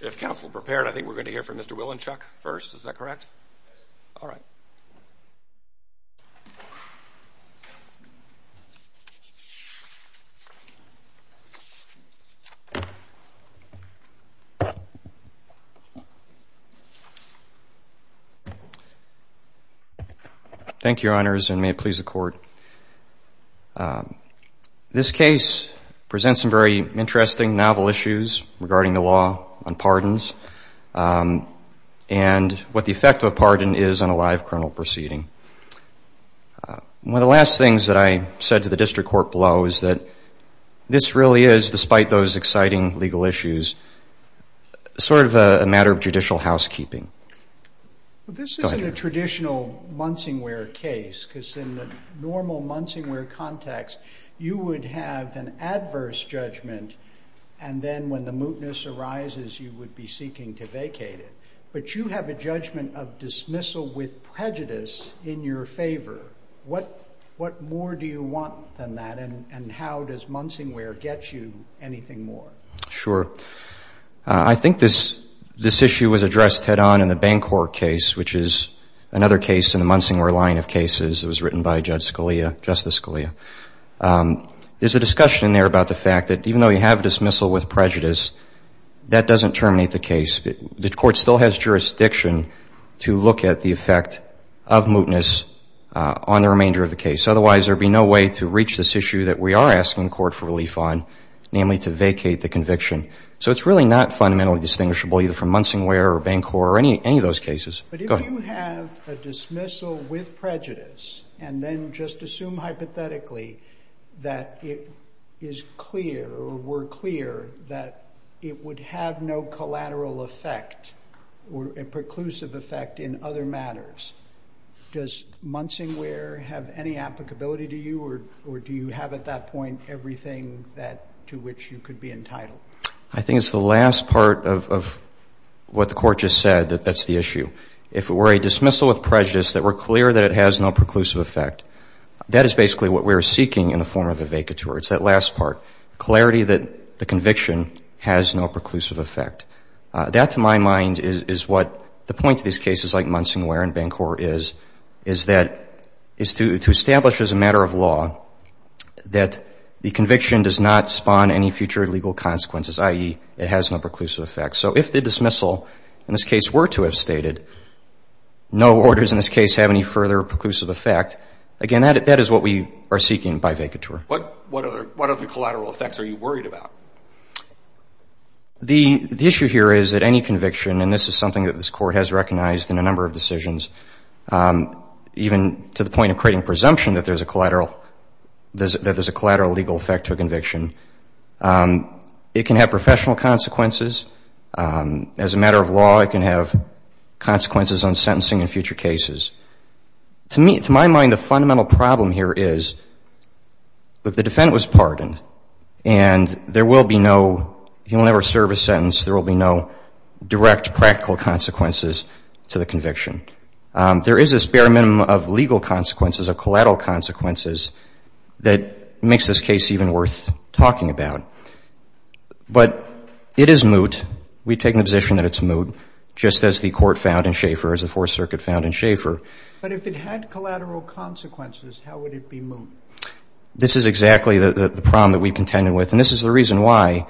If counsel prepared, I think we're going to hear from Mr. Willinchuk first. Is that correct? All right. Thank you, Your Honors, and may it please the Court. This case presents some very interesting, novel issues regarding the law on pardons and what the effect of a pardon is on a live criminal proceeding. One of the last things that I said to the District Court below is that this really is, despite those exciting legal issues, sort of a matter of judicial housekeeping. This isn't a traditional Munsingware case, because in the normal Munsingware context, you would have an adverse judgment, and then when the mootness arises, you would be seeking to vacate it. But you have a judgment of dismissal with prejudice in your favor. What more do you want than that, and how does Munsingware get you anything more? Sure. I think this issue was addressed head-on in the Bancorp case, which is another case in the Munsingware line of cases. It was written by Justice Scalia. There's a discussion there about the fact that even though you have dismissal with prejudice, that doesn't terminate the case. The Court still has jurisdiction to look at the effect of mootness on the remainder of the case. Otherwise, there would be no way to reach this issue that we are asking the Court for relief on, namely to vacate the conviction. So it's really not fundamentally distinguishable either from Munsingware or Bancorp or any of those cases. But if you have a dismissal with prejudice and then just assume hypothetically that it is clear or were clear that it would have no collateral effect or a preclusive effect in other matters, does Munsingware have any applicability to you, or do you have at that point everything to which you could be entitled? I think it's the last part of what the Court just said, that that's the issue. If it were a dismissal with prejudice that were clear that it has no preclusive effect, that is basically what we are seeking in the form of a vacatur. It's that last part, clarity that the conviction has no preclusive effect. That, to my mind, is what the point of these cases like Munsingware and Bancorp is, is that to establish as a matter of law that the conviction does not spawn any future legal consequences, i.e., it has no preclusive effect. So if the dismissal in this case were to have stated no orders in this case have any further preclusive effect, again, that is what we are seeking by vacatur. What other collateral effects are you worried about? The issue here is that any conviction, and this is something that this Court has recognized in a number of decisions, even to the point of creating presumption that there is a collateral legal effect to a conviction, it can have professional consequences. As a matter of law, it can have consequences on sentencing in future cases. To my mind, the fundamental problem here is that the defendant was pardoned, and there will be no, he will never serve a sentence, there will be no direct practical consequences to the conviction. There is this bare minimum of legal consequences, of collateral consequences, that makes this case even worth talking about. But it is moot. We take the position that it's moot, just as the Court found in Schaeffer, as the Fourth Circuit found in Schaeffer. But if it had collateral consequences, how would it be moot? This is exactly the problem that we contended with, and this is the reason why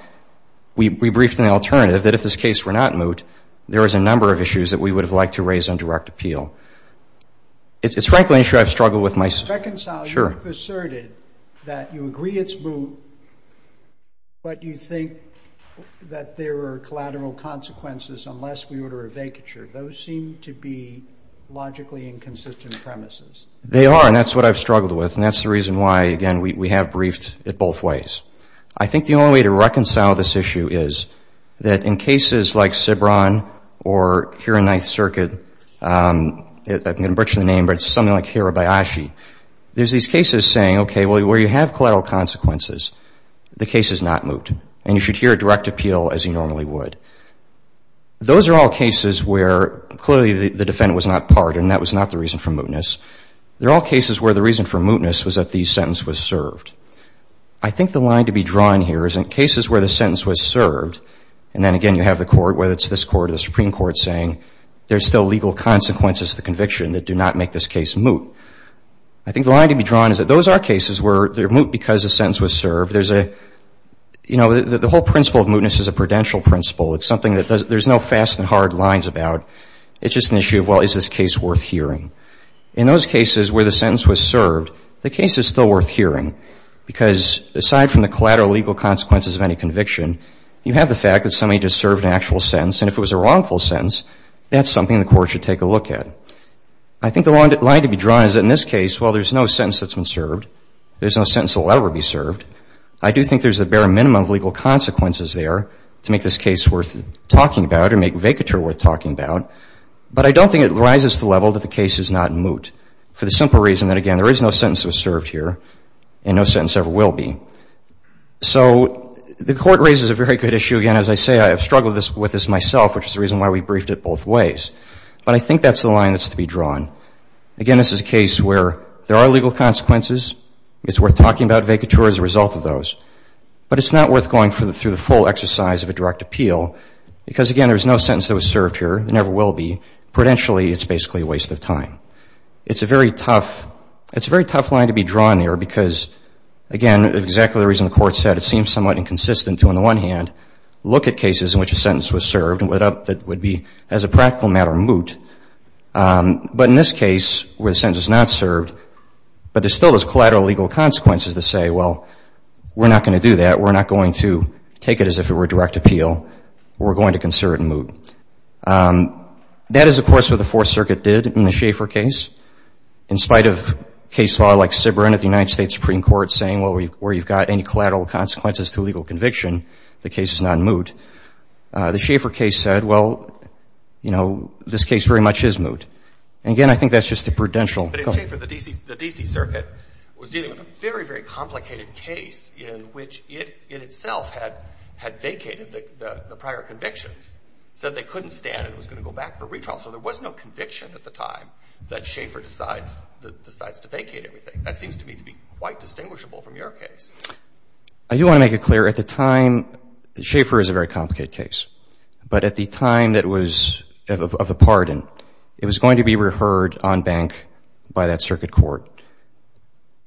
we briefed an alternative, that if this case were not moot, there is a number of issues that we would have liked to raise on direct appeal. It's frankly an issue I've struggled with myself. Mr. Reconcile, you've asserted that you agree it's moot, but you think that there are collateral consequences unless we order a vacature. Those seem to be logically inconsistent premises. They are, and that's what I've struggled with, and that's the reason why, again, we have briefed it both ways. I think the only way to reconcile this issue is that in cases like Cibran or here in Ninth Circuit, I'm going to butcher the name, but it's something like Hirabayashi, there's these cases saying, okay, well, where you have collateral consequences, the case is not moot, and you should hear a direct appeal as you normally would. Those are all cases where clearly the defendant was not pardoned, and that was not the reason for mootness. They're all cases where the reason for mootness was that the sentence was served. I think the line to be drawn here is in cases where the sentence was served, and then again you have the court, whether it's this court or the Supreme Court, saying there's still legal consequences to the conviction that do not make this case moot. I think the line to be drawn is that those are cases where they're moot because the sentence was served. There's a, you know, the whole principle of mootness is a prudential principle. It's something that there's no fast and hard lines about. It's just an issue of, well, is this case worth hearing? In those cases where the sentence was served, the case is still worth hearing because aside from the collateral legal consequences of any conviction, you have the fact that somebody just served an actual sentence, and if it was a wrongful sentence, that's something the court should take a look at. I think the line to be drawn is that in this case, well, there's no sentence that's been served. There's no sentence that will ever be served. I do think there's the bare minimum of legal consequences there to make this case worth talking about or make vacatur worth talking about, but I don't think it rises to the level that the case is not moot for the simple reason that, again, there is no sentence that was served here and no sentence ever will be. So the court raises a very good issue. Again, as I say, I have struggled with this myself, which is the reason why we briefed it both ways, but I think that's the line that's to be drawn. Again, this is a case where there are legal consequences. It's worth talking about vacatur as a result of those, but it's not worth going through the full exercise of a direct appeal because, again, there's no sentence that was served here and never will be. Prudentially, it's basically a waste of time. It's a very tough line to be drawn here because, again, exactly the reason the court said it seems somewhat inconsistent to, on the one hand, look at cases in which a sentence was served that would be, as a practical matter, moot, but in this case where the sentence was not served, but there still is collateral legal consequences to say, well, we're not going to do that. We're not going to take it as if it were a direct appeal. We're going to consider it moot. That is, of course, what the Fourth Circuit did in the Schaeffer case. In spite of case law like Sibren at the United States Supreme Court saying, well, where you've got any collateral consequences to a legal conviction, the case is not moot, the Schaeffer case said, well, you know, this case very much is moot. Again, I think that's just a prudential. But in Schaeffer, the D.C. Circuit was dealing with a very, very complicated case in which it, in itself, had vacated the prior convictions. So they couldn't stand it. It was going to go back for retrial. So there was no conviction at the time that Schaeffer decides to vacate everything. That seems to me to be quite distinguishable from your case. I do want to make it clear. At the time, Schaeffer is a very complicated case. But at the time of the pardon, it was going to be reheard on bank by that Circuit Court.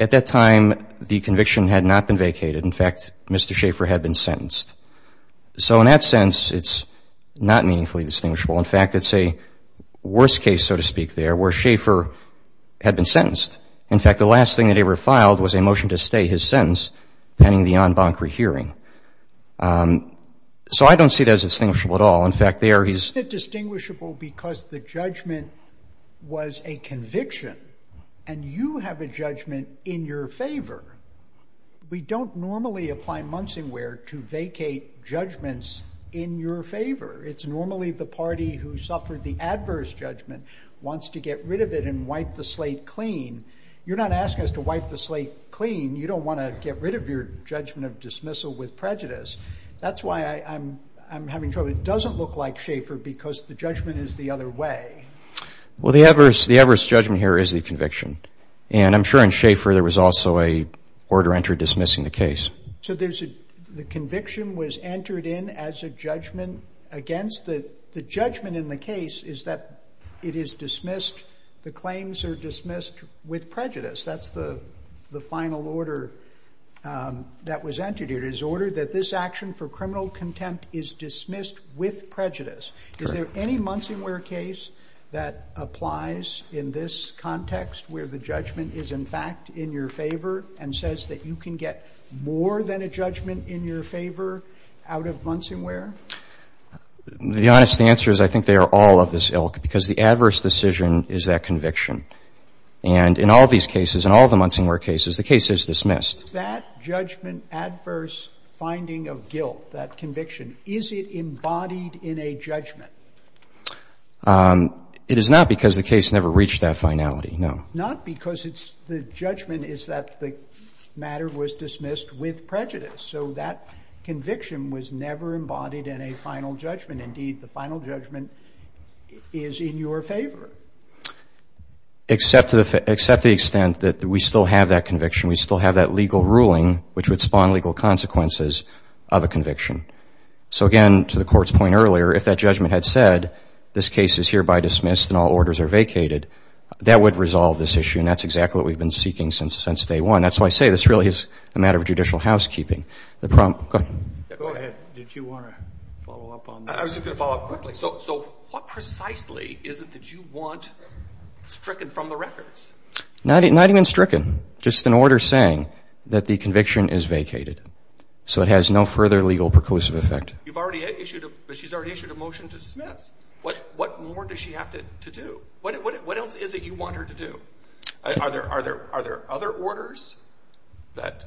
At that time, the conviction had not been vacated. In fact, Mr. Schaeffer had been sentenced. So in that sense, it's not meaningfully distinguishable. In fact, it's a worst case, so to speak, there, where Schaeffer had been sentenced. In fact, the last thing that he ever filed was a motion to stay his sentence pending the en banc rehearing. So I don't see that as distinguishable at all. In fact, there he's ---- It's not distinguishable because the judgment was a conviction, and you have a judgment in your favor. We don't normally apply Munsingware to vacate judgments in your favor. It's normally the party who suffered the adverse judgment wants to get rid of it and wipe the slate clean. You're not asking us to wipe the slate clean. You don't want to get rid of your judgment of dismissal with prejudice. That's why I'm having trouble. It doesn't look like Schaeffer because the judgment is the other way. Well, the adverse judgment here is the conviction. And I'm sure in Schaeffer there was also an order entered dismissing the case. So there's a conviction was entered in as a judgment against the judgment in the case is that it is dismissed. The claims are dismissed with prejudice. That's the final order that was entered. It is ordered that this action for criminal contempt is dismissed with prejudice. Is there any Munsingware case that applies in this context where the judgment is, in fact, in your favor and says that you can get more than a judgment in your favor out of Munsingware? The honest answer is I think they are all of this ilk because the adverse decision is that conviction. And in all these cases, in all the Munsingware cases, the case is dismissed. Is that judgment adverse finding of guilt, that conviction, is it embodied in a judgment? It is not because the case never reached that finality, no. Not because the judgment is that the matter was dismissed with prejudice. So that conviction was never embodied in a final judgment. Indeed, the final judgment is in your favor. Except to the extent that we still have that conviction, we still have that legal ruling, which would spawn legal consequences of a conviction. So, again, to the Court's point earlier, if that judgment had said this case is hereby dismissed and all orders are vacated, that would resolve this issue. And that's exactly what we've been seeking since day one. That's why I say this really is a matter of judicial housekeeping. Go ahead. Did you want to follow up on that? I was just going to follow up quickly. So what precisely is it that you want stricken from the records? Not even stricken, just an order saying that the conviction is vacated, so it has no further legal preclusive effect. You've already issued a motion to dismiss. What more does she have to do? What else is it you want her to do? Are there other orders that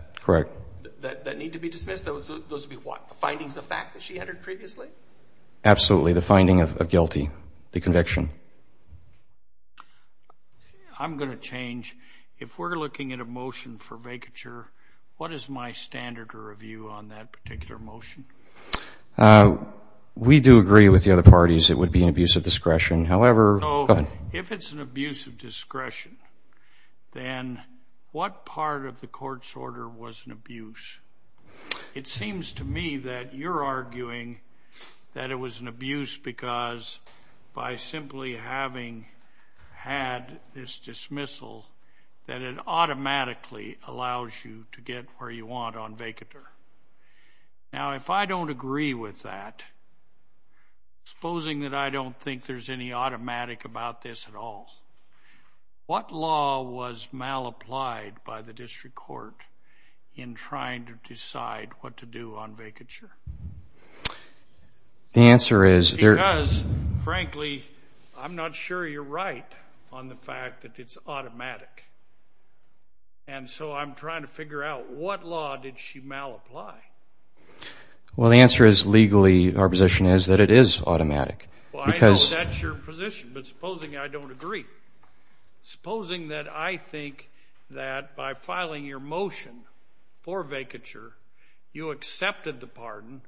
need to be dismissed? Those would be what, the findings of fact that she entered previously? Absolutely, the finding of guilty, the conviction. I'm going to change. If we're looking at a motion for vacature, what is my standard of review on that particular motion? We do agree with the other parties it would be an abuse of discretion. However, if it's an abuse of discretion, then what part of the Court's order was an abuse? It seems to me that you're arguing that it was an abuse because by simply having had this dismissal, that it automatically allows you to get where you want on vacature. Now, if I don't agree with that, supposing that I don't think there's any automatic about this at all, what law was malapplied by the District Court in trying to decide what to do on vacature? The answer is... Because, frankly, I'm not sure you're right on the fact that it's automatic. And so I'm trying to figure out what law did she malapply? Well, the answer is legally our position is that it is automatic. Well, I know that's your position, but supposing I don't agree. Supposing that I think that by filing your motion for vacature, you accepted the pardon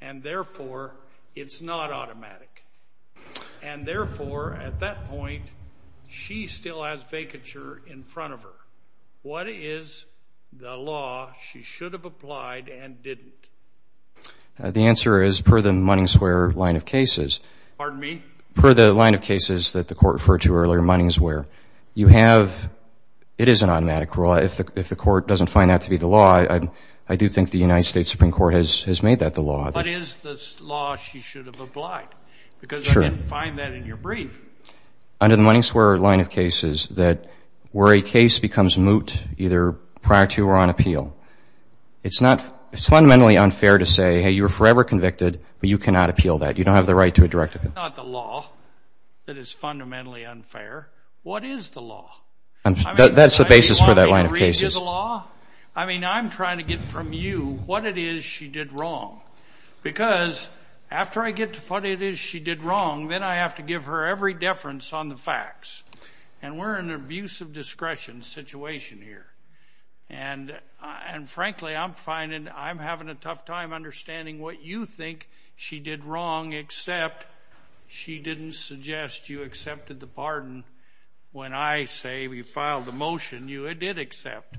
and, therefore, it's not automatic. And, therefore, at that point, she still has vacature in front of her. What is the law she should have applied and didn't? The answer is per the Munning Square line of cases. Pardon me? Per the line of cases that the Court referred to earlier, Munning Square, you have – it is an automatic rule. If the Court doesn't find that to be the law, I do think the United States Supreme Court has made that the law. What is the law she should have applied? Because I didn't find that in your brief. Under the Munning Square line of cases, where a case becomes moot either prior to or on appeal, it's fundamentally unfair to say, hey, you were forever convicted, but you cannot appeal that. You don't have the right to a direct appeal. That's not the law that is fundamentally unfair. What is the law? That's the basis for that line of cases. I mean, I'm trying to get from you what it is she did wrong. Because after I get to what it is she did wrong, then I have to give her every deference on the facts. And we're in an abuse of discretion situation here. And, frankly, I'm having a tough time understanding what you think she did wrong, except she didn't suggest you accepted the pardon. When I say we filed the motion, you did accept.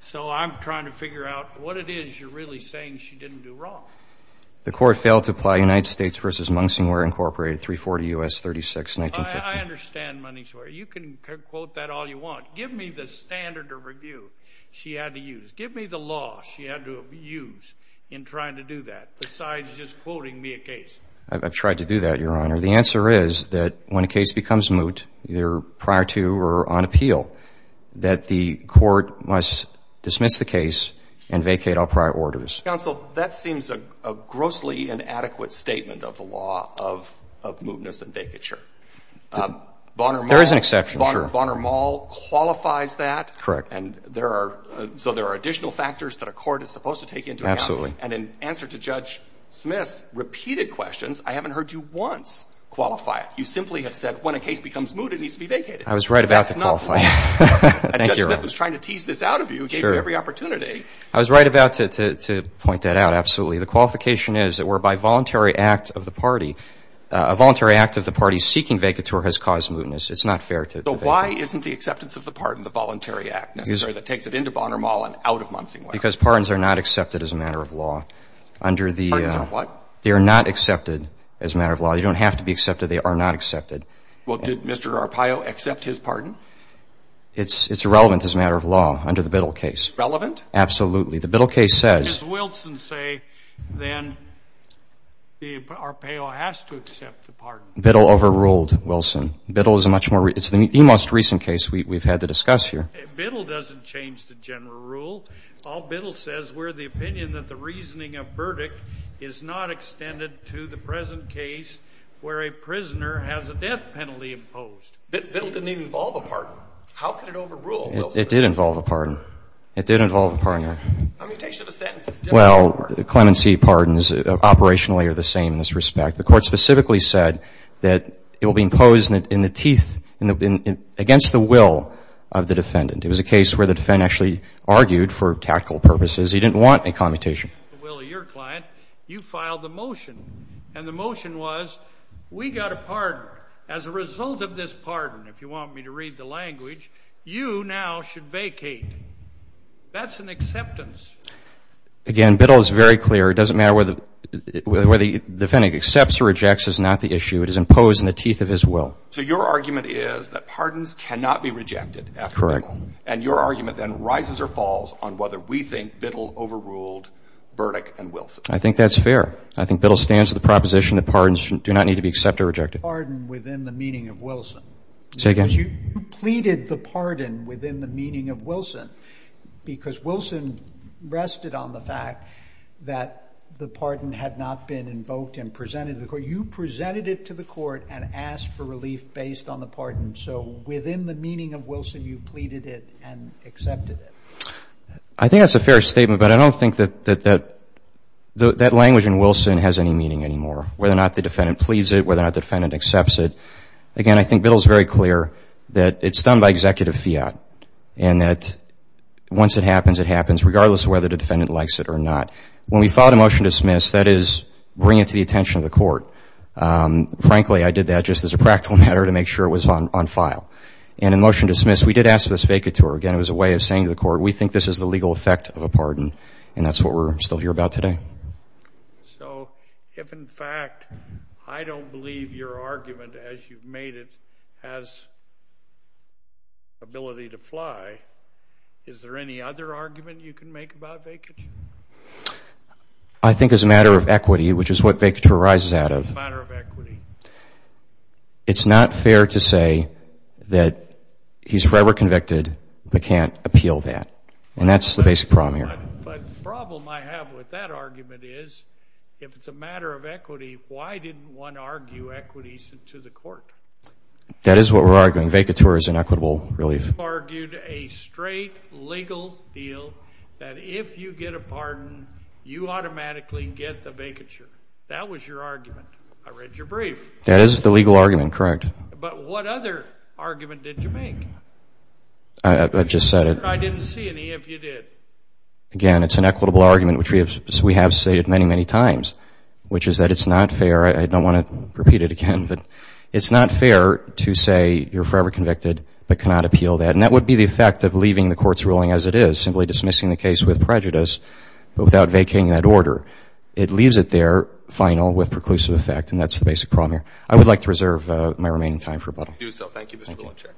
So I'm trying to figure out what it is you're really saying she didn't do wrong. The Court failed to apply United States v. Mung Singware, Incorporated, 340 U.S. 36-1915. I understand, Munning Square. You can quote that all you want. Give me the standard of review she had to use. Give me the law she had to use in trying to do that, besides just quoting me a case. I've tried to do that, Your Honor. The answer is that when a case becomes moot, either prior to or on appeal, that the court must dismiss the case and vacate all prior orders. Counsel, that seems a grossly inadequate statement of the law of mootness and vacature. There is an exception, sure. Mr. Bonner-Mall qualifies that. Correct. So there are additional factors that a court is supposed to take into account. Absolutely. And in answer to Judge Smith's repeated questions, I haven't heard you once qualify it. You simply have said when a case becomes moot, it needs to be vacated. I was right about to qualify it. That's not fair. Thank you, Your Honor. Judge Smith was trying to tease this out of you. Sure. Gave you every opportunity. I was right about to point that out, absolutely. The qualification is that whereby voluntary act of the party, a voluntary act of the party seeking vacature has caused mootness. It's not fair to vacate. So why isn't the acceptance of the pardon, the voluntary act, necessary that takes it into Bonner-Mall and out of Munsingwell? Because pardons are not accepted as a matter of law. Pardons are what? They are not accepted as a matter of law. They don't have to be accepted. They are not accepted. Well, did Mr. Arpaio accept his pardon? It's relevant as a matter of law under the Biddle case. Relevant? Absolutely. The Biddle case says — Does Wilson say then the Arpaio has to accept the pardon? Biddle overruled Wilson. Biddle is a much more — it's the most recent case we've had to discuss here. Biddle doesn't change the general rule. All Biddle says, we're of the opinion that the reasoning of verdict is not extended to the present case where a prisoner has a death penalty imposed. Biddle didn't even involve a pardon. How could it overrule Wilson? It did involve a pardon. It did involve a pardon, Your Honor. Commutation of the sentence is different. Well, clemency pardons operationally are the same in this respect. The Court specifically said that it will be imposed in the teeth — against the will of the defendant. It was a case where the defendant actually argued for tactical purposes. He didn't want a commutation. Well, your client, you filed the motion, and the motion was, we got a pardon. As a result of this pardon, if you want me to read the language, you now should vacate. That's an acceptance. Again, Biddle is very clear. It doesn't matter whether the defendant accepts or rejects is not the issue. It is imposed in the teeth of his will. So your argument is that pardons cannot be rejected at Biddle. Correct. And your argument then rises or falls on whether we think Biddle overruled Burdick and Wilson. I think that's fair. I think Biddle stands to the proposition that pardons do not need to be accepted or rejected. Pardon within the meaning of Wilson. Say again. Because you pleaded the pardon within the meaning of Wilson because Wilson rested on the fact that the pardon had not been invoked and presented to the court. You presented it to the court and asked for relief based on the pardon. So within the meaning of Wilson, you pleaded it and accepted it. I think that's a fair statement, but I don't think that that language in Wilson has any meaning anymore, whether or not the defendant pleads it, whether or not the defendant accepts it. Again, I think Biddle is very clear that it's done by executive fiat and that once it happens, it happens regardless of whether the defendant likes it or not. When we filed a motion to dismiss, that is bring it to the attention of the court. Frankly, I did that just as a practical matter to make sure it was on file. And in motion to dismiss, we did ask for this vacatur. Again, it was a way of saying to the court, we think this is the legal effect of a pardon, and that's what we're still here about today. So if, in fact, I don't believe your argument as you've made it has ability to fly, is there any other argument you can make about vacatur? I think as a matter of equity, which is what vacatur arises out of, it's not fair to say that he's forever convicted but can't appeal that, and that's the basic problem here. But the problem I have with that argument is if it's a matter of equity, why didn't one argue equities to the court? That is what we're arguing. Vacatur is an equitable relief. You argued a straight legal deal that if you get a pardon, you automatically get the vacatur. That was your argument. I read your brief. That is the legal argument, correct. But what other argument did you make? I just said it. I didn't see any, if you did. Again, it's an equitable argument, which we have stated many, many times, which is that it's not fair. I don't want to repeat it again, but it's not fair to say you're forever convicted but cannot appeal that, and that would be the effect of leaving the court's ruling as it is, simply dismissing the case with prejudice but without vacating that order. It leaves it there, final, with preclusive effect, and that's the basic problem here. I would like to reserve my remaining time for rebuttal. Thank you, Mr. Blanchard.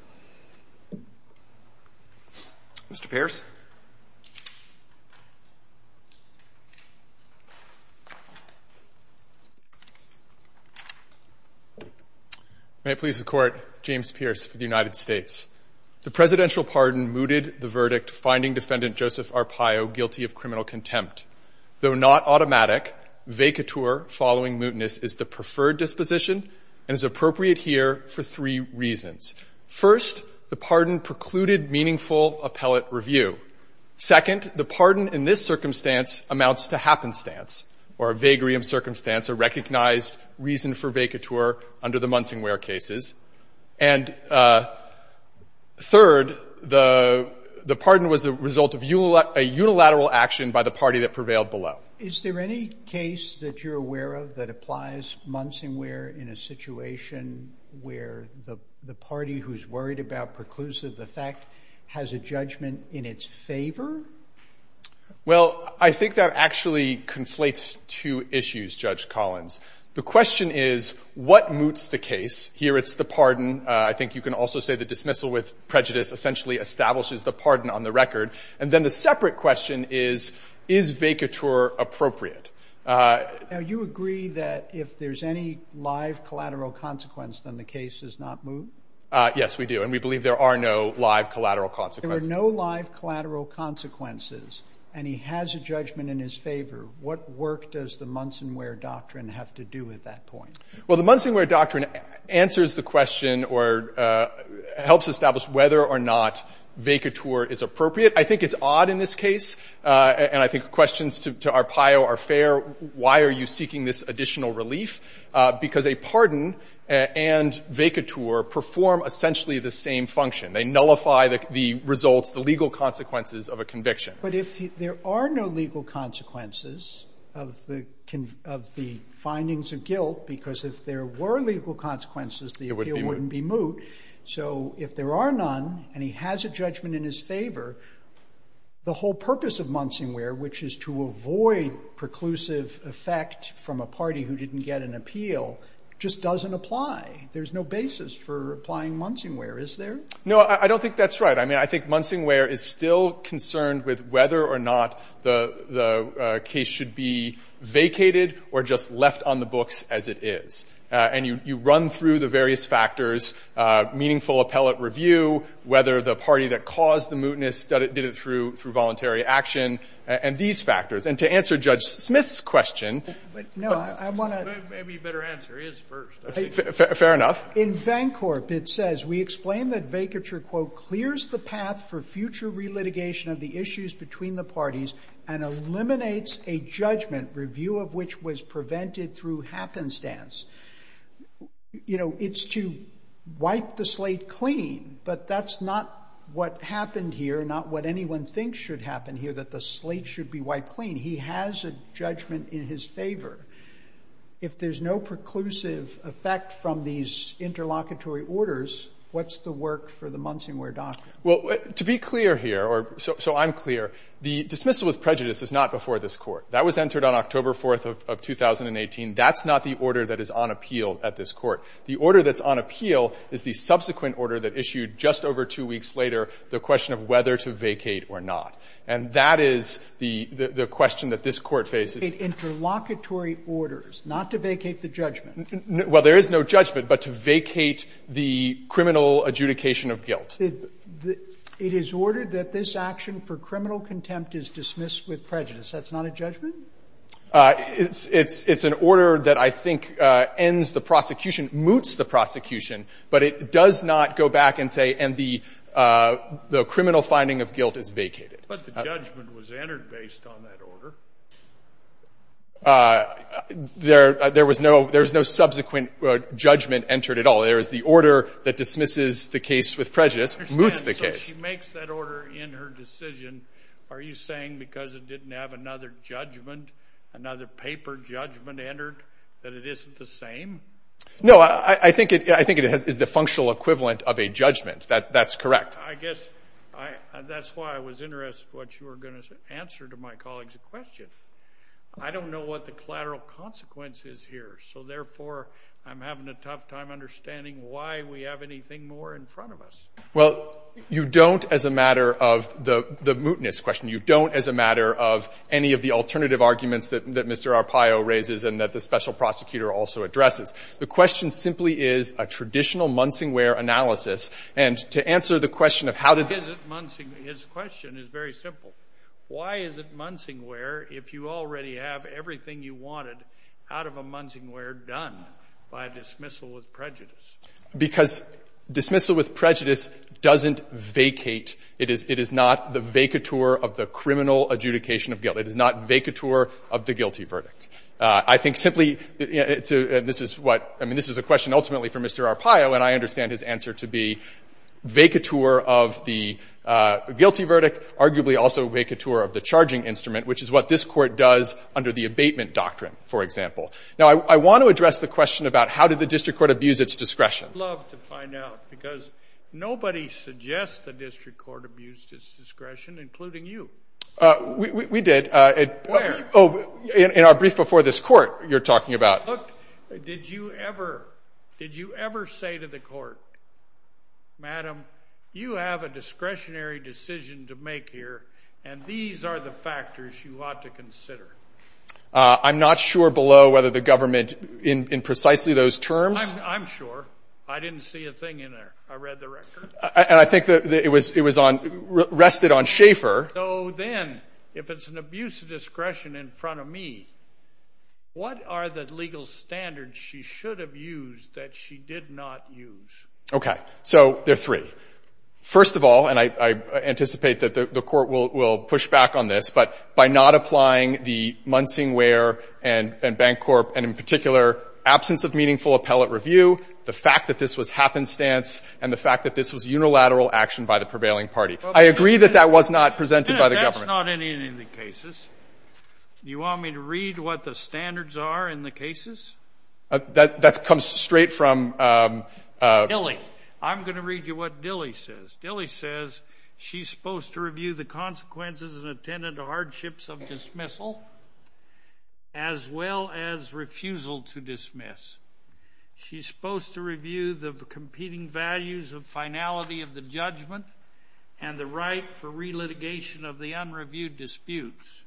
Mr. Pearce. May it please the Court, James Pearce for the United States. The presidential pardon mooted the verdict finding defendant Joseph Arpaio guilty of criminal contempt. Though not automatic, vacatur following mootness is the preferred disposition and is appropriate here for three reasons. First, the pardon precluded meaningful appellate review. Second, the pardon in this circumstance amounts to happenstance or vagary of circumstance or recognized reason for vacatur under the Munsingware cases. And third, the pardon was a result of unilateral action by the party that prevailed below. Is there any case that you're aware of that applies Munsingware in a situation where the party who's worried about preclusive effect has a judgment in its favor? Well, I think that actually conflates two issues, Judge Collins. The question is, what moots the case? Here it's the pardon. I think you can also say the dismissal with prejudice essentially establishes the pardon on the record. And then the separate question is, is vacatur appropriate? Now, you agree that if there's any live collateral consequence, then the case is not moot? Yes, we do. And we believe there are no live collateral consequences. There are no live collateral consequences. And he has a judgment in his favor. What work does the Munsingware doctrine have to do at that point? Well, the Munsingware doctrine answers the question or helps establish whether or not vacatur is appropriate. I think it's odd in this case. And I think questions to Arpaio are fair. Why are you seeking this additional relief? Because a pardon and vacatur perform essentially the same function. They nullify the results, the legal consequences of a conviction. But if there are no legal consequences of the findings of guilt, because if there were legal consequences, the appeal wouldn't be moot. So if there are none and he has a judgment in his favor, the whole purpose of Munsingware, which is to avoid preclusive effect from a party who didn't get an appeal, just doesn't apply. There's no basis for applying Munsingware, is there? No, I don't think that's right. I mean, I think Munsingware is still concerned with whether or not the case should be vacated or just left on the books as it is. And you run through the various factors, meaningful appellate review, whether the party that caused the mootness did it through voluntary action, and these factors. And to answer Judge Smith's question, I want to — Maybe you better answer his first. Fair enough. In Van Corp, it says, We explain that vacatur, quote, clears the path for future relitigation of the issues between the parties and eliminates a judgment review of which was prevented through happenstance. You know, it's to wipe the slate clean. But that's not what happened here, not what anyone thinks should happen here, that the slate should be wiped clean. He has a judgment in his favor. If there's no preclusive effect from these interlocutory orders, what's the work for the Munsingware document? Well, to be clear here, or so I'm clear, the dismissal with prejudice is not before this Court. That was entered on October 4th of 2018. That's not the order that is on appeal at this Court. The order that's on appeal is the subsequent order that issued just over two weeks later, the question of whether to vacate or not. And that is the question that this Court faces. Interlocutory orders, not to vacate the judgment. Well, there is no judgment, but to vacate the criminal adjudication of guilt. It is ordered that this action for criminal contempt is dismissed with prejudice. That's not a judgment? It's an order that I think ends the prosecution, moots the prosecution, but it does not go back and say, and the criminal finding of guilt is vacated. But the judgment was entered based on that order. There was no subsequent judgment entered at all. There is the order that dismisses the case with prejudice, moots the case. I understand. So she makes that order in her decision, are you saying because it didn't have another judgment, another paper judgment entered, that it isn't the same? No, I think it is the functional equivalent of a judgment. That's correct. I guess that's why I was interested in what you were going to answer to my colleagues in question. I don't know what the collateral consequence is here, so therefore I'm having a tough time understanding why we have anything more in front of us. Well, you don't as a matter of the mootness question. You don't as a matter of any of the alternative arguments that Mr. Arpaio raises and that the special prosecutor also addresses. The question simply is a traditional Munsingware analysis. And to answer the question of how to do that. Why is it Munsingware? His question is very simple. Why is it Munsingware if you already have everything you wanted out of a Munsingware done by dismissal with prejudice? Because dismissal with prejudice doesn't vacate. It is not the vacateur of the criminal adjudication of guilt. It is not vacateur of the guilty verdict. I think simply to — and this is what — I mean, this is a question ultimately for Mr. Arpaio, and I understand his answer to be vacateur of the guilty verdict, arguably also vacateur of the charging instrument, which is what this Court does under the abatement doctrine, for example. Now, I want to address the question about how did the district court abuse its discretion. I would love to find out because nobody suggests the district court abused its discretion, including you. We did. Where? In our brief before this Court you're talking about. Look, did you ever say to the Court, Madam, you have a discretionary decision to make here, and these are the factors you ought to consider. I'm not sure below whether the government in precisely those terms. I'm sure. I didn't see a thing in there. I read the record. And I think that it was on — rested on Schaeffer. So then, if it's an abuse of discretion in front of me, what are the legal standards she should have used that she did not use? Okay. So there are three. First of all, and I anticipate that the Court will push back on this, but by not applying the Munsing Ware and Bank Corp., and in particular, absence of meaningful appellate review, the fact that this was happenstance, and the fact that this was unilateral action by the prevailing party. I agree that that was not presented by the government. That's not in any of the cases. You want me to read what the standards are in the cases? That comes straight from — Dilley. I'm going to read you what Dilley says. Dilley says, she's supposed to review the consequences and attendant hardships of dismissal as well as refusal to dismiss. She's supposed to review the competing values of finality of the judgment and the right for re-litigation of the unreviewed disputes.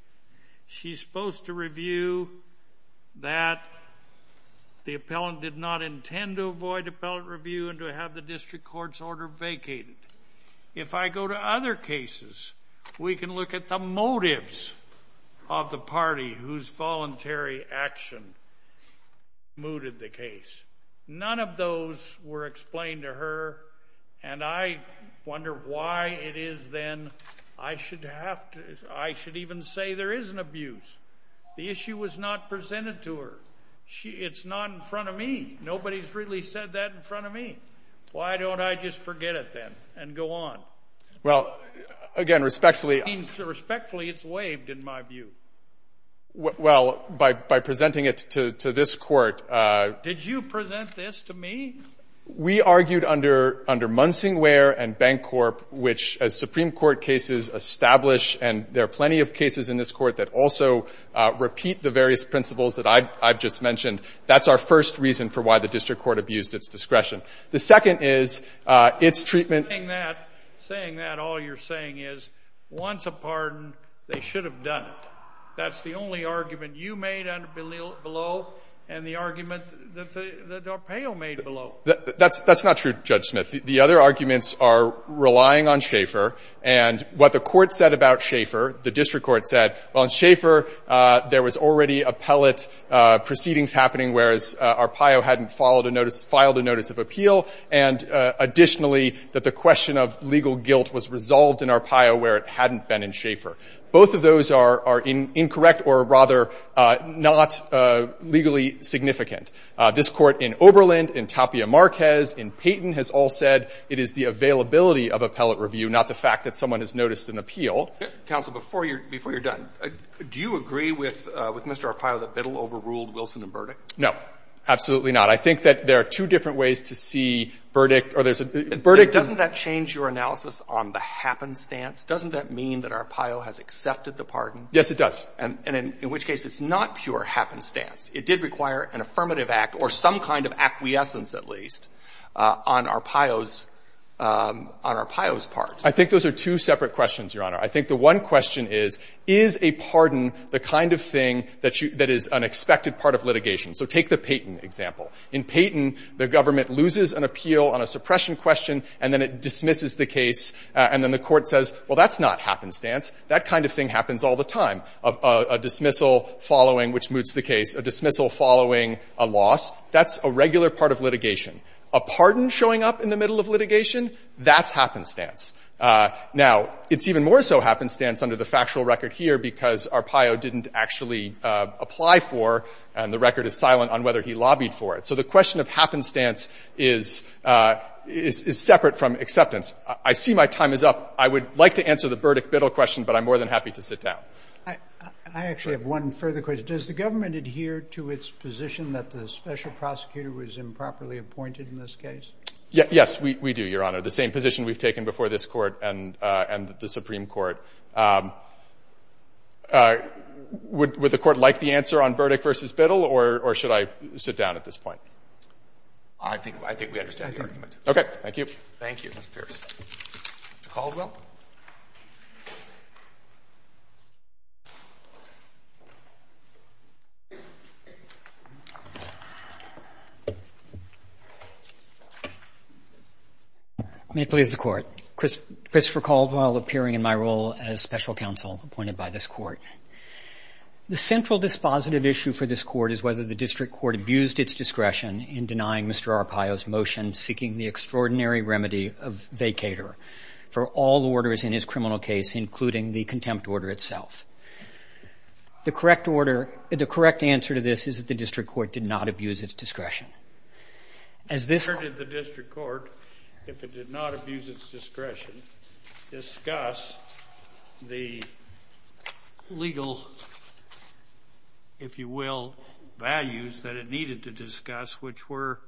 She's supposed to review that the appellant did not intend to avoid appellate review and to have the district court's order vacated. If I go to other cases, we can look at the motives of the party whose voluntary action mooted the case. None of those were explained to her, and I wonder why it is then I should even say there is an abuse. The issue was not presented to her. It's not in front of me. Nobody's really said that in front of me. Why don't I just forget it then and go on? Well, again, respectfully — Respectfully, it's waived in my view. Well, by presenting it to this Court — Did you present this to me? We argued under Munsing Ware and Bancorp, which, as Supreme Court cases establish, and there are plenty of cases in this Court that also repeat the various principles that I've just mentioned. That's our first reason for why the district court abused its discretion. The second is, its treatment — Saying that, saying that, all you're saying is, once a pardon, they should have done it. That's the only argument you made below and the argument that Del Pao made below. That's not true, Judge Smith. The other arguments are relying on Schaeffer. And what the Court said about Schaeffer, the district court said, well, in Schaeffer, there was already appellate proceedings happening, whereas Arpaio hadn't filed a notice of appeal. And additionally, that the question of legal guilt was resolved in Arpaio where it hadn't been in Schaeffer. Both of those are incorrect or rather not legally significant. This Court in Oberland, in Tapia Marquez, in Payton has all said it is the availability of appellate review, not the fact that someone has noticed an appeal. And so, I think that's the only argument that's being made. Roberts. Yes, Your Honor. Counsel. Counsel, before you're done, do you agree with Mr. Arpaio that Biddle overruled Wilson and Burdick? No, absolutely not. I think that there are two different ways to see Burdick or there's a — Burdick doesn't — Doesn't that change your analysis on the happenstance? Doesn't that mean that Arpaio has accepted the pardon? Yes, it does. And in which case, it's not pure happenstance. It did require an affirmative act or some kind of acquiescence, at least, on Arpaio's — on Arpaio's part. I think those are two separate questions, Your Honor. I think the one question is, is a pardon the kind of thing that is an expected part of litigation? So take the Payton example. In Payton, the government loses an appeal on a suppression question and then it dismisses the case. And then the Court says, well, that's not happenstance. That kind of thing happens all the time, a dismissal following, which moots the case, a dismissal following a loss. That's a regular part of litigation. A pardon showing up in the middle of litigation, that's happenstance. Now, it's even more so happenstance under the factual record here because Arpaio didn't actually apply for and the record is silent on whether he lobbied for it. So the question of happenstance is separate from acceptance. I see my time is up. I would like to answer the Burdick-Biddle question, but I'm more than happy to sit down. I actually have one further question. Does the government adhere to its position that the special prosecutor was improperly appointed in this case? Yes. We do, Your Honor. The same position we've taken before this Court and the Supreme Court. Would the Court like the answer on Burdick v. Biddle or should I sit down at this point? I think we understand the argument. Okay. Thank you. Thank you, Mr. Pearson. Mr. Caldwell. May it please the Court. Christopher Caldwell appearing in my role as special counsel appointed by this Court. The central dispositive issue for this Court is whether the district court abused its discretion in denying Mr. Arpaio's motion seeking the extraordinary remedy of vacator for all orders in his criminal case, including the contempt order itself. The correct answer to this is that the district court did not abuse its discretion. Where did the district court, if it did not abuse its discretion, discuss the legal, if you will, values that it needed to discuss, which were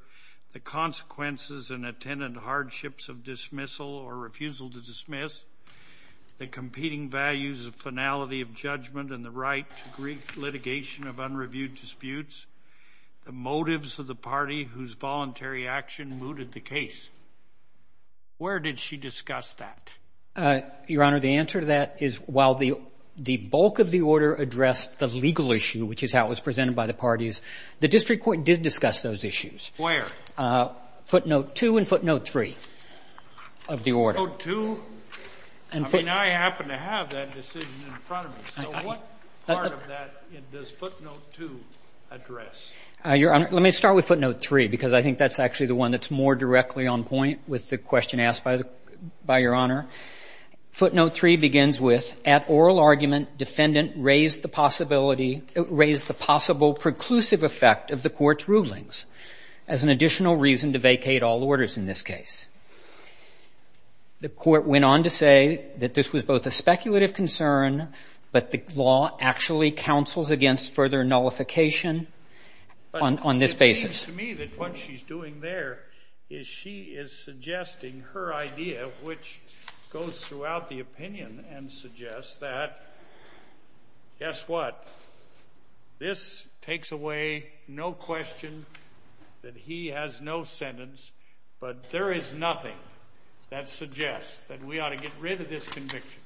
the consequences and attendant hardships of dismissal or refusal to dismiss, the competing values of finality of judgment and the right to brief litigation of unreviewed disputes, the motives of the party whose voluntary action mooted the case? Where did she discuss that? Your Honor, the answer to that is while the bulk of the order addressed the legal issue, which is how it was presented by the parties, the district court did discuss those issues. Where? Footnote 2 and footnote 3 of the order. Footnote 2? I mean, I happen to have that decision in front of me. So what part of that does footnote 2 address? Your Honor, let me start with footnote 3, because I think that's actually the one that's more directly on point with the question asked by Your Honor. Footnote 3 begins with, at oral argument, defendant raised the possibility raised the possible preclusive effect of the court's rulings as an additional reason to vacate all orders in this case. The court went on to say that this was both a speculative concern, but the law actually counsels against further nullification on this basis. But it seems to me that what she's doing there is she is suggesting her idea, which goes throughout the opinion and suggests that, guess what, this takes away no question that he has no sentence, but there is nothing that suggests that we ought to get rid of this conviction.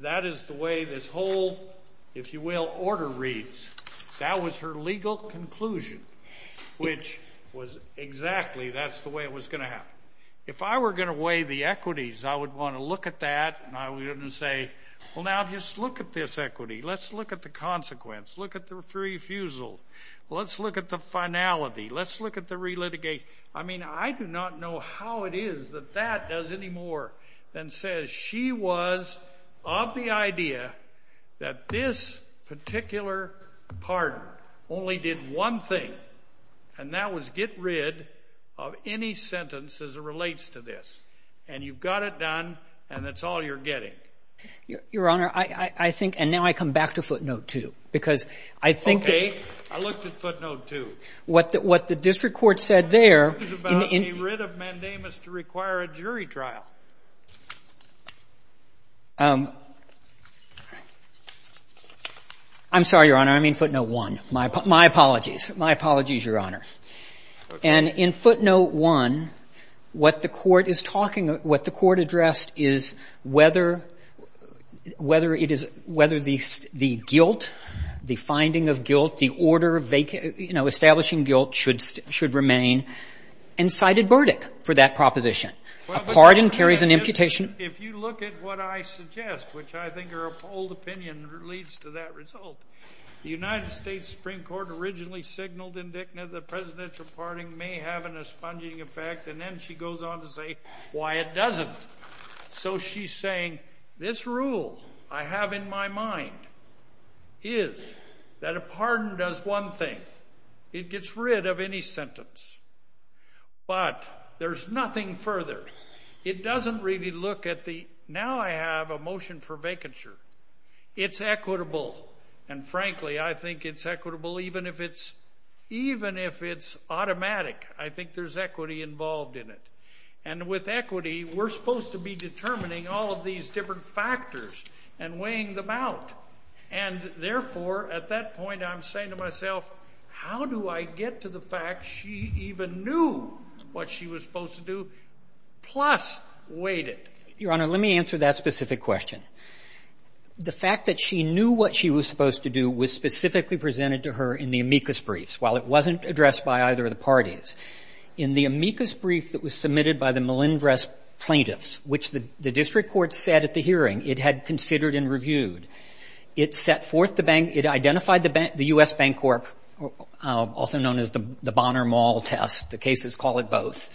That is the way this whole, if you will, order reads. That was her legal conclusion, which was exactly that's the way it was going to happen. If I were going to weigh the equities, I would want to look at that, and I wouldn't say, well, now just look at this equity. Let's look at the consequence. Look at the refusal. Let's look at the finality. Let's look at the relitigation. I mean, I do not know how it is that that does any more than says she was of the idea that this particular pardon only did one thing, and that was get rid of any sentence as it relates to this. And you've got it done, and that's all you're getting. Your Honor, I think, and now I come back to footnote 2, because I think that Okay. I looked at footnote 2. What the district court said there This is about a writ of mandamus to require a jury trial. I'm sorry, Your Honor. I mean footnote 1. My apologies. My apologies, Your Honor. And in footnote 1, what the court is talking about, what the court addressed is whether it is, whether the guilt, the finding of guilt, the order of, you know, establishing guilt should remain, and cited Burdick for that proposition. A pardon carries an imputation. If you look at what I suggest, which I think her appalled opinion leads to that result, the United States Supreme Court originally signaled in Dikna that presidential pardoning may have an expunging effect, and then she goes on to say why it doesn't. So she's saying this rule I have in my mind is that a pardon does one thing. It gets rid of any sentence. But there's nothing further. It doesn't really look at the now I have a motion for vacature. It's equitable, and frankly, I think it's equitable even if it's automatic. I think there's equity involved in it. And with equity, we're supposed to be determining all of these different factors and weighing them out. And therefore, at that point, I'm saying to myself, how do I get to the fact she even knew what she was supposed to do, plus weighed it? Your Honor, let me answer that specific question. The fact that she knew what she was supposed to do was specifically presented to her in the amicus briefs, while it wasn't addressed by either of the parties. In the amicus brief that was submitted by the Melendrez plaintiffs, which the district court said at the hearing it had considered and reviewed, it set forth the bank – it was also known as the Bonner-Mall test. The cases call it both.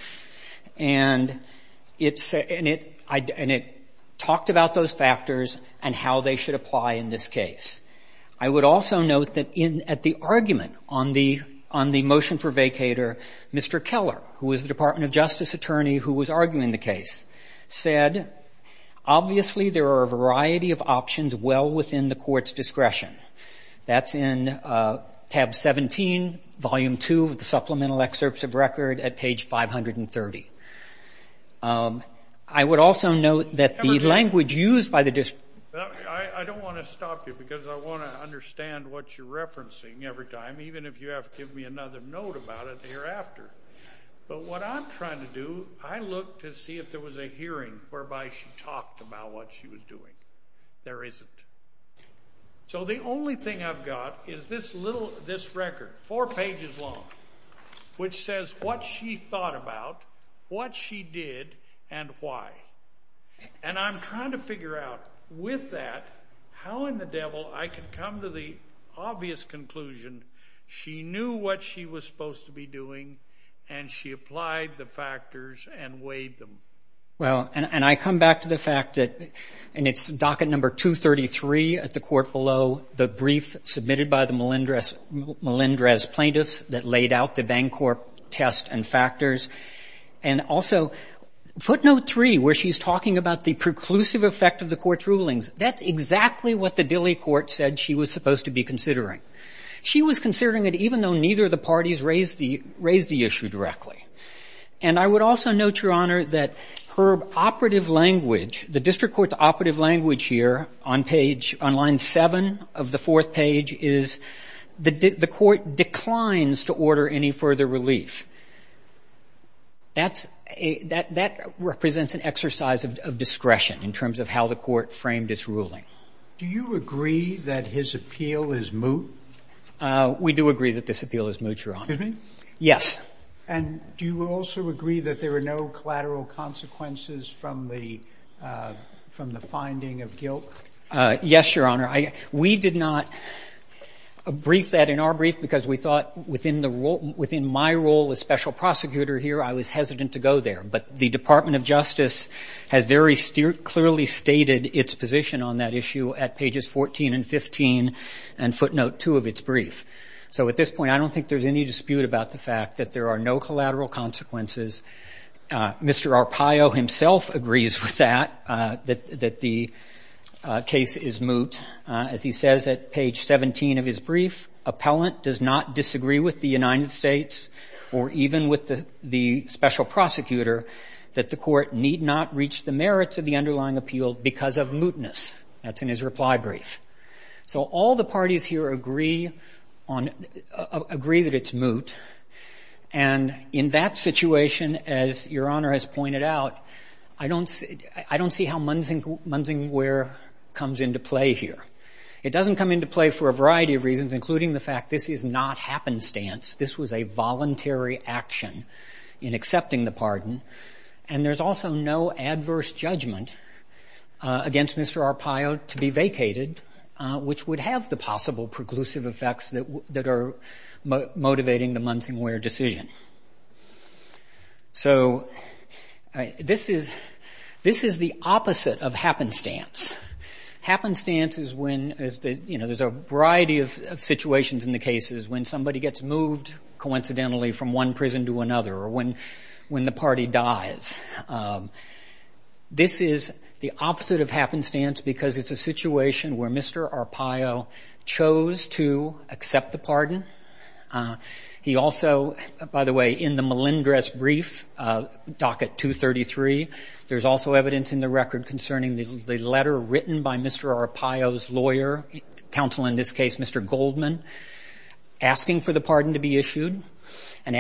And it talked about those factors and how they should apply in this case. I would also note that at the argument on the motion for vacatur, Mr. Keller, who was the Department of Justice attorney who was arguing the case, said, obviously there are a variety of options well within the court's discretion. That's in tab 17, volume 2 of the supplemental excerpts of record at page 530. I would also note that the language used by the district – I don't want to stop you because I want to understand what you're referencing every time, even if you have to give me another note about it hereafter. But what I'm trying to do, I look to see if there was a hearing whereby she talked about what she was doing. There isn't. So the only thing I've got is this record, four pages long, which says what she thought about, what she did, and why. And I'm trying to figure out with that how in the devil I can come to the obvious conclusion she knew what she was supposed to be doing and she applied the factors and weighed them. Well, and I come back to the fact that in its docket number 233 at the court below, the brief submitted by the Melendrez plaintiffs that laid out the Bancorp test and factors. And also footnote 3, where she's talking about the preclusive effect of the court's rulings, that's exactly what the Dilley court said she was supposed to be considering. She was considering it even though neither of the parties raised the issue directly. And I would also note, Your Honor, that her operative language, the district court's operative language here on page, on line 7 of the fourth page is the court declines to order any further relief. That represents an exercise of discretion in terms of how the court framed its ruling. Do you agree that his appeal is moot? We do agree that this appeal is moot, Your Honor. Excuse me? Yes. And do you also agree that there are no collateral consequences from the finding of guilt? Yes, Your Honor. We did not brief that in our brief because we thought within my role as special prosecutor here, I was hesitant to go there. But the Department of Justice has very clearly stated its position on that issue at pages 14 and 15, and footnote 2 of its brief. So at this point, I don't think there's any dispute about the fact that there are no collateral consequences. Mr. Arpaio himself agrees with that, that the case is moot. As he says at page 17 of his brief, appellant does not disagree with the United States or even with the special prosecutor that the court need not reach the merits of the underlying appeal because of mootness. That's in his reply brief. So all the parties here agree that it's moot. And in that situation, as Your Honor has pointed out, I don't see how munsingware comes into play here. It doesn't come into play for a variety of reasons, including the fact this is not happenstance. This was a voluntary action in accepting the pardon. And there's also no adverse judgment against Mr. Arpaio to be vacated, which would have the possible preclusive effects that are motivating the munsingware decision. So this is the opposite of happenstance. Happenstance is when there's a variety of situations in the cases when somebody gets moved, coincidentally, from one prison to another or when the party dies. This is the opposite of happenstance because it's a situation where Mr. Arpaio chose to accept the pardon. He also, by the way, in the Melendrez brief, docket 233, there's also evidence in the record concerning the letter written by Mr. Arpaio's lawyer, counsel in this case, Mr. Goldman, asking for the pardon to be issued and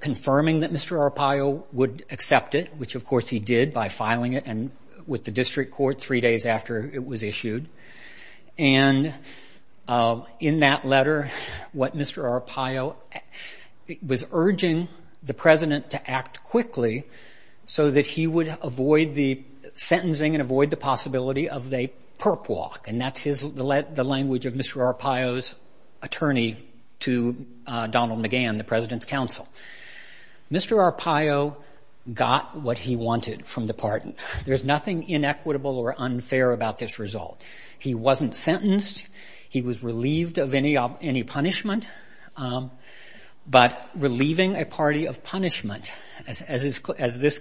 confirming that Mr. Arpaio would accept it, which, of course, he did by filing it with the district court three days after it was issued. And in that letter, Mr. Arpaio was urging the president to act quickly so that he would avoid the sentencing and avoid the possibility of a perp walk. And that's the language of Mr. Arpaio's attorney to Donald McGahn, the president's counsel. Mr. Arpaio got what he wanted from the pardon. There's nothing inequitable or unfair about this result. He wasn't sentenced. He was relieved of any punishment. But relieving a party of punishment, as this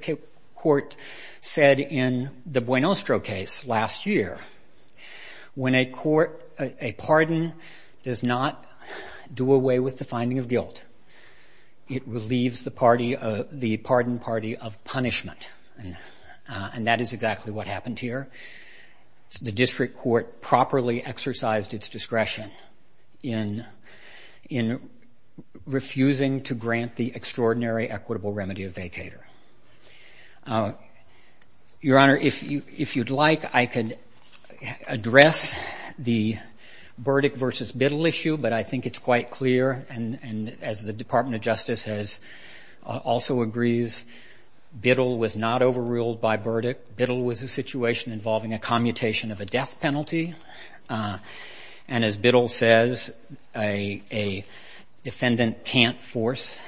court said in the Buenostro case last year, when a pardon does not do away with the finding of guilt, it relieves the pardon party of punishment. And that is exactly what happened here. The district court properly exercised its discretion in refusing to grant the extraordinary equitable remedy of vacator. Your Honor, if you'd like, I could address the Burdick versus Biddle issue, but I think it's quite clear, and as the Department of Justice has also agrees, Biddle was not overruled by Burdick. Biddle was a situation involving a commutation of a death penalty. And as Biddle says, a defendant can't force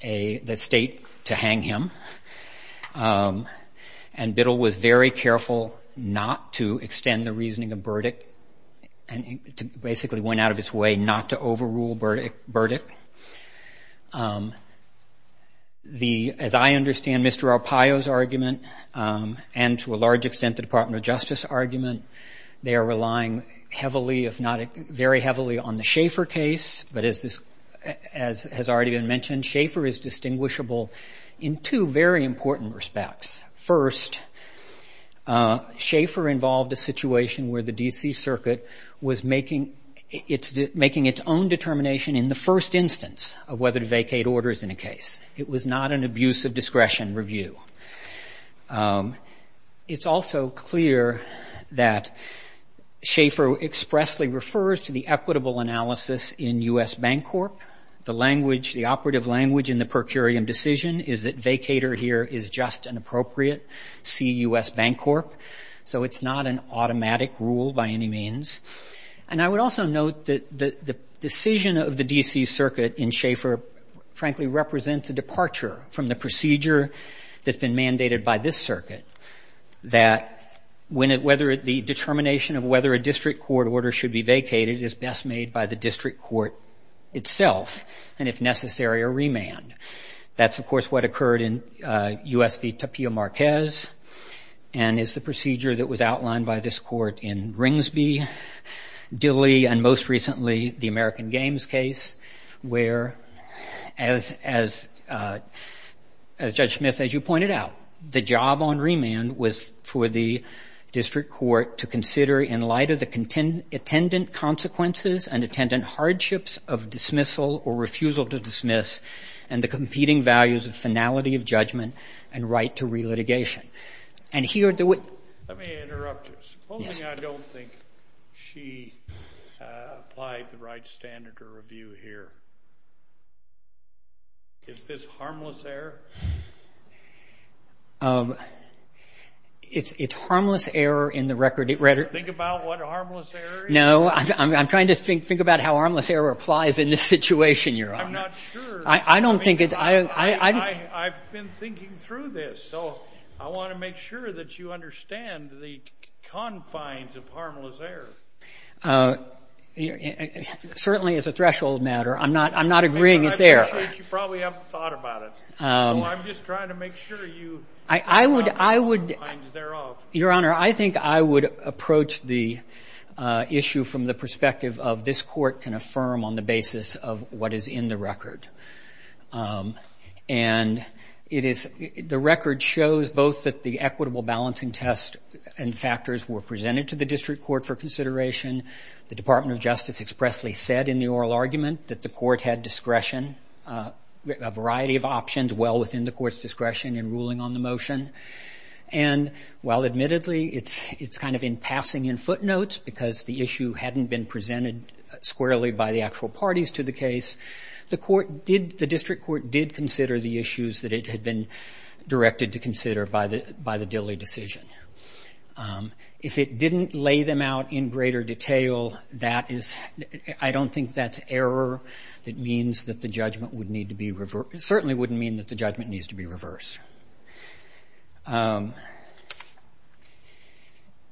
the state to hang him. And Biddle was very careful not to extend the reasoning of Burdick and basically went out of its way not to overrule Burdick. As I understand Mr. Arpaio's argument and to a large extent the Department of Justice is now relying heavily, if not very heavily, on the Schaefer case. But as has already been mentioned, Schaefer is distinguishable in two very important respects. First, Schaefer involved a situation where the D.C. Circuit was making its own determination in the first instance of whether to vacate orders in a case. It was not an abuse of discretion review. It's also clear that Schaefer expressly refers to the equitable analysis in U.S. Bancorp. The language, the operative language in the per curiam decision is that vacater here is just and appropriate, see U.S. Bancorp. So it's not an automatic rule by any means. And I would also note that the decision of the D.C. Circuit in Schaefer, frankly, represents a departure from the procedure that's been mandated by this circuit that the determination of whether a district court order should be vacated is best made by the district court itself and, if necessary, a remand. That's, of course, what occurred in U.S. v. Tapio Marquez and is the procedure that was outlined by this court in where, as Judge Smith, as you pointed out, the job on remand was for the district court to consider in light of the attendant consequences and attendant hardships of dismissal or refusal to dismiss and the competing values of finality of judgment and right to re-litigation. And here the way... Let me interrupt you. Supposing I don't think she applied the right standard to review here. Is this harmless error? It's harmless error in the record. Think about what harmless error is. No, I'm trying to think about how harmless error applies in this situation, Your Honor. I'm not sure. I don't think it's... I've been thinking through this. So I want to make sure that you understand the confines of harmless error. Certainly it's a threshold matter. I'm not agreeing it's error. I'm sure you probably haven't thought about it. So I'm just trying to make sure you... I would... ...know the confines thereof. Your Honor, I think I would approach the issue from the perspective of this court can affirm on the basis of what is in the record. And it is... The record shows both that the equitable balancing test and factors were presented to the district court for consideration. The Department of Justice expressly said in the oral argument that the court had discretion, a variety of options well within the court's discretion in ruling on the motion. And while admittedly it's kind of in passing in footnotes because the issue hadn't been presented squarely by the actual parties to the case, the district court did consider the issues that it had been directed to consider by the Dilley decision. If it didn't lay them out in greater detail, that is... I don't think that's error. It means that the judgment would need to be... It certainly wouldn't mean that the judgment needs to be reversed. I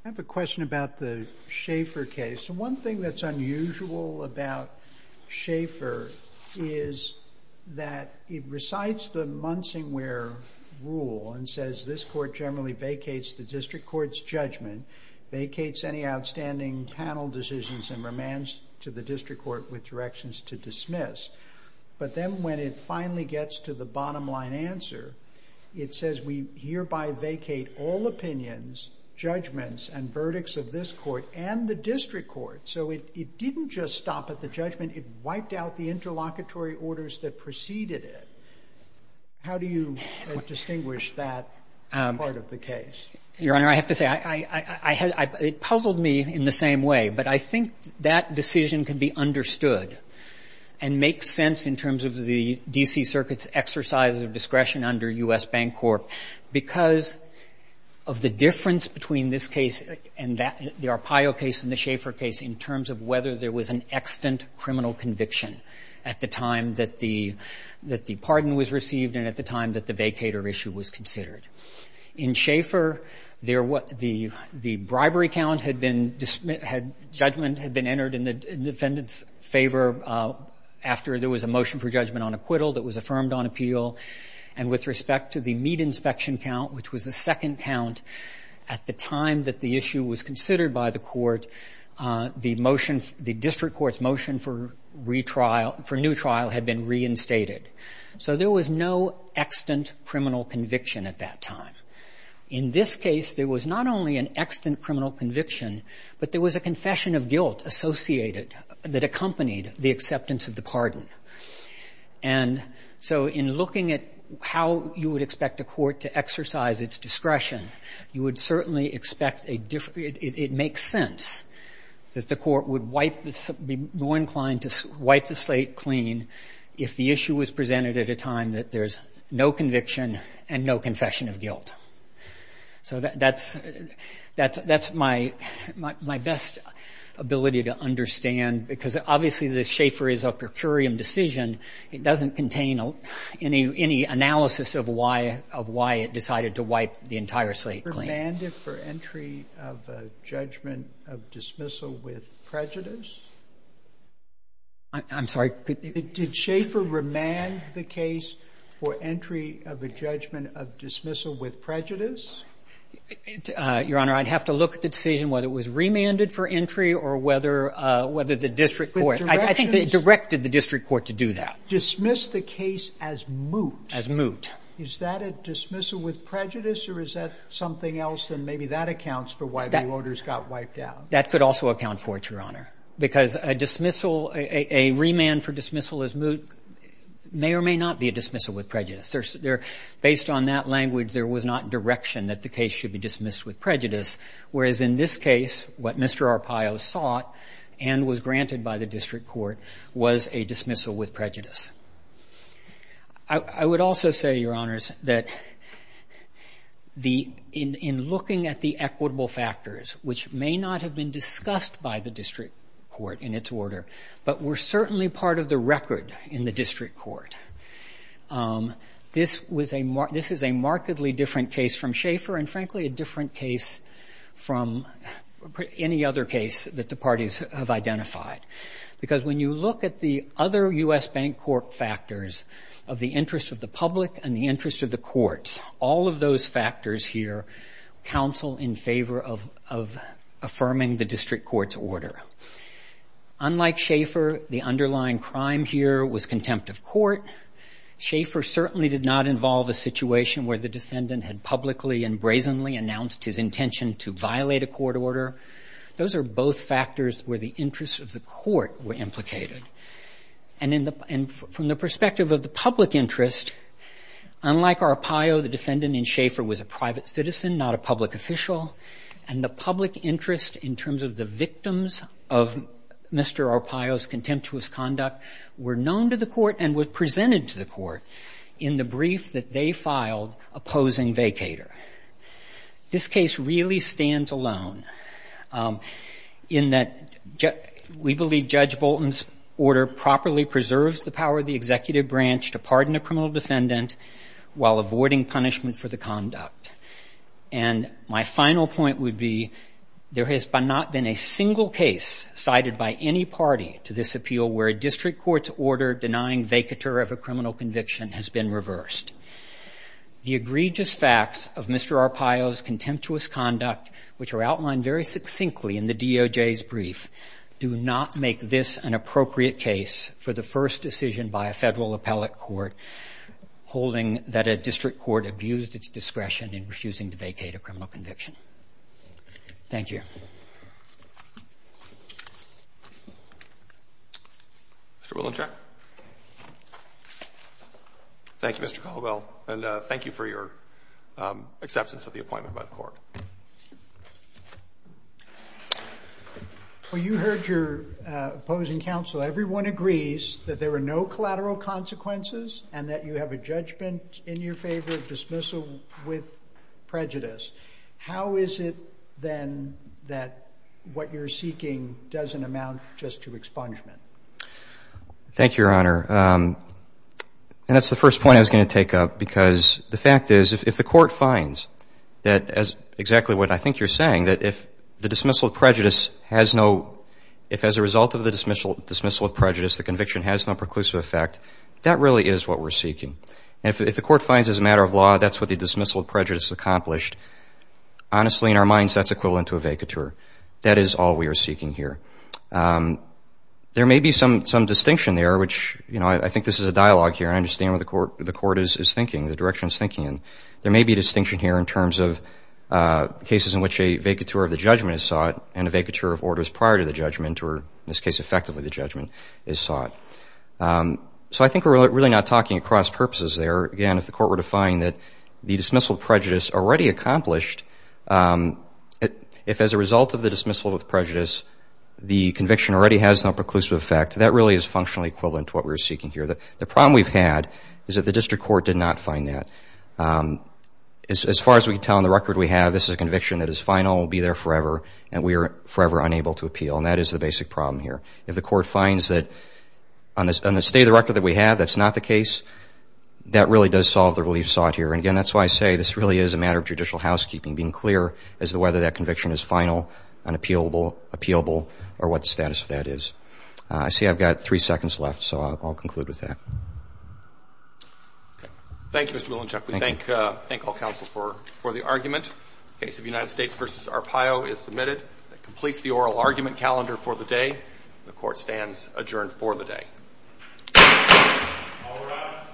have a question about the Schaefer case. One thing that's unusual about Schaefer is that it recites the Munsingware rule and says this court generally vacates the district court's judgment, vacates any outstanding panel decisions and remands to the district court with directions to dismiss. But then when it finally gets to the bottom line answer, it says we hereby vacate all opinions, judgments, and verdicts of this court and the district court. So it didn't just stop at the judgment, it wiped out the interlocutory orders that preceded it. How do you distinguish that part of the case? Your Honor, I have to say, it puzzled me in the same way. But I think that decision can be understood and make sense in terms of the D.C. Circuit's exercise of discretion under U.S. Bancorp because of the difference between this case and that, the Arpaio case and the Schaefer case, in terms of whether there was an extant criminal conviction at the time that the pardon was received and at the time that the vacator issue was considered. In Schaefer, the bribery count had been, judgment had been entered in the defendant's favor after there was a motion for judgment on acquittal that was affirmed on appeal. And with respect to the meat inspection count, which was the second count at the time that the issue was considered by the court, the district court's motion for new trial had been reinstated. So there was no extant criminal conviction at that time. In this case, there was not only an extant criminal conviction, but there was a confession of guilt associated that accompanied the acceptance of the pardon. And so in looking at how you would expect a court to exercise its discretion, you would certainly expect a different, it makes sense that the court would be more inclined to wipe the slate clean if the issue was presented at a time that there's no conviction and no confession of guilt. So that's my best ability to understand because obviously the Schaefer is a per curiam decision. It doesn't contain any analysis of why it decided to wipe the entire slate clean. Did Schaefer remand it for entry of a judgment of dismissal with prejudice? I'm sorry? Did Schaefer remand the case for entry of a judgment of dismissal with prejudice? Your Honor, I'd have to look at the decision, whether it was remanded for entry or whether the district court, I think they directed the district court to do that. Dismiss the case as moot. As moot. Is that a dismissal with prejudice or is that something else and maybe that accounts for why the orders got wiped out? That could also account for it, Your Honor, because a remand for dismissal as moot may or may not be a dismissal with prejudice. Based on that language, there was not direction that the case should be dismissed with prejudice, whereas in this case, what Mr. Arpaio sought and was granted by the district court was a dismissal with prejudice. I would also say, Your Honors, that in looking at the equitable factors, which may not have been discussed by the district court in its order, but were certainly part of the record in the district court, this is a markedly different case from Schaefer and, frankly, a different case from any other case that the parties have identified. Because when you look at the other U.S. Bank Court factors of the interest of the public and the interest of the courts, all of those factors here counsel in favor of affirming the district court's order. Unlike Schaefer, the underlying crime here was contempt of court. Schaefer certainly did not involve a situation where the defendant had publicly and brazenly announced his intention to violate a court order. Those are both factors where the interests of the court were implicated. And from the perspective of the public interest, unlike Arpaio, the defendant in Schaefer was a private citizen, not a public official, and the public interest in terms of the victims to the court in the brief that they filed opposing vacator. This case really stands alone in that we believe Judge Bolton's order properly preserves the power of the executive branch to pardon a criminal defendant while avoiding punishment for the conduct. And my final point would be there has not been a single case cited by any party to this appeal where a district court's order denying vacator of a criminal conviction has been reversed. The egregious facts of Mr. Arpaio's contemptuous conduct, which are outlined very succinctly in the DOJ's brief, do not make this an appropriate case for the first decision by a federal appellate court holding that a district court abused its discretion in refusing to vacate a criminal conviction. Thank you. Mr. Willenshack. Thank you, Mr. Caldwell, and thank you for your acceptance of the appointment by the court. Well, you heard your opposing counsel. Everyone agrees that there are no collateral consequences and that you have a judgment in your favor of dismissal with prejudice. How is it, then, that what you're seeking doesn't amount just to expungement? Thank you, Your Honor. And that's the first point I was going to take up because the fact is if the court finds that, as exactly what I think you're saying, that if the dismissal of prejudice has no – if as a result of the dismissal of prejudice the conviction has no preclusive effect, that really is what we're seeking. And if the court finds as a matter of law that's what the dismissal of prejudice accomplished, honestly, in our minds, that's equivalent to a vacateur. That is all we are seeking here. There may be some distinction there, which I think this is a dialogue here. I understand what the court is thinking, the direction it's thinking in. There may be a distinction here in terms of cases in which a vacateur of the judgment is sought and a vacateur of orders prior to the judgment or, in this case, effectively the judgment is sought. So I think we're really not talking across purposes there. Again, if the court were to find that the dismissal of prejudice already accomplished, if as a result of the dismissal of prejudice the conviction already has no preclusive effect, that really is functionally equivalent to what we're seeking here. The problem we've had is that the district court did not find that. As far as we can tell on the record we have, this is a conviction that is final and will be there forever, and we are forever unable to appeal, and that is the basic problem here. If the court finds that on the state of the record that we have that's not the case, that really does solve the relief sought here. Again, that's why I say this really is a matter of judicial housekeeping, being clear as to whether that conviction is final, unappealable, appealable, or what the status of that is. I see I've got three seconds left, so I'll conclude with that. Thank you, Mr. Willinchuk. We thank all counsel for the argument. The case of United States v. Arpaio is submitted. That completes the oral argument calendar for the day. The court stands adjourned for the day. All rise.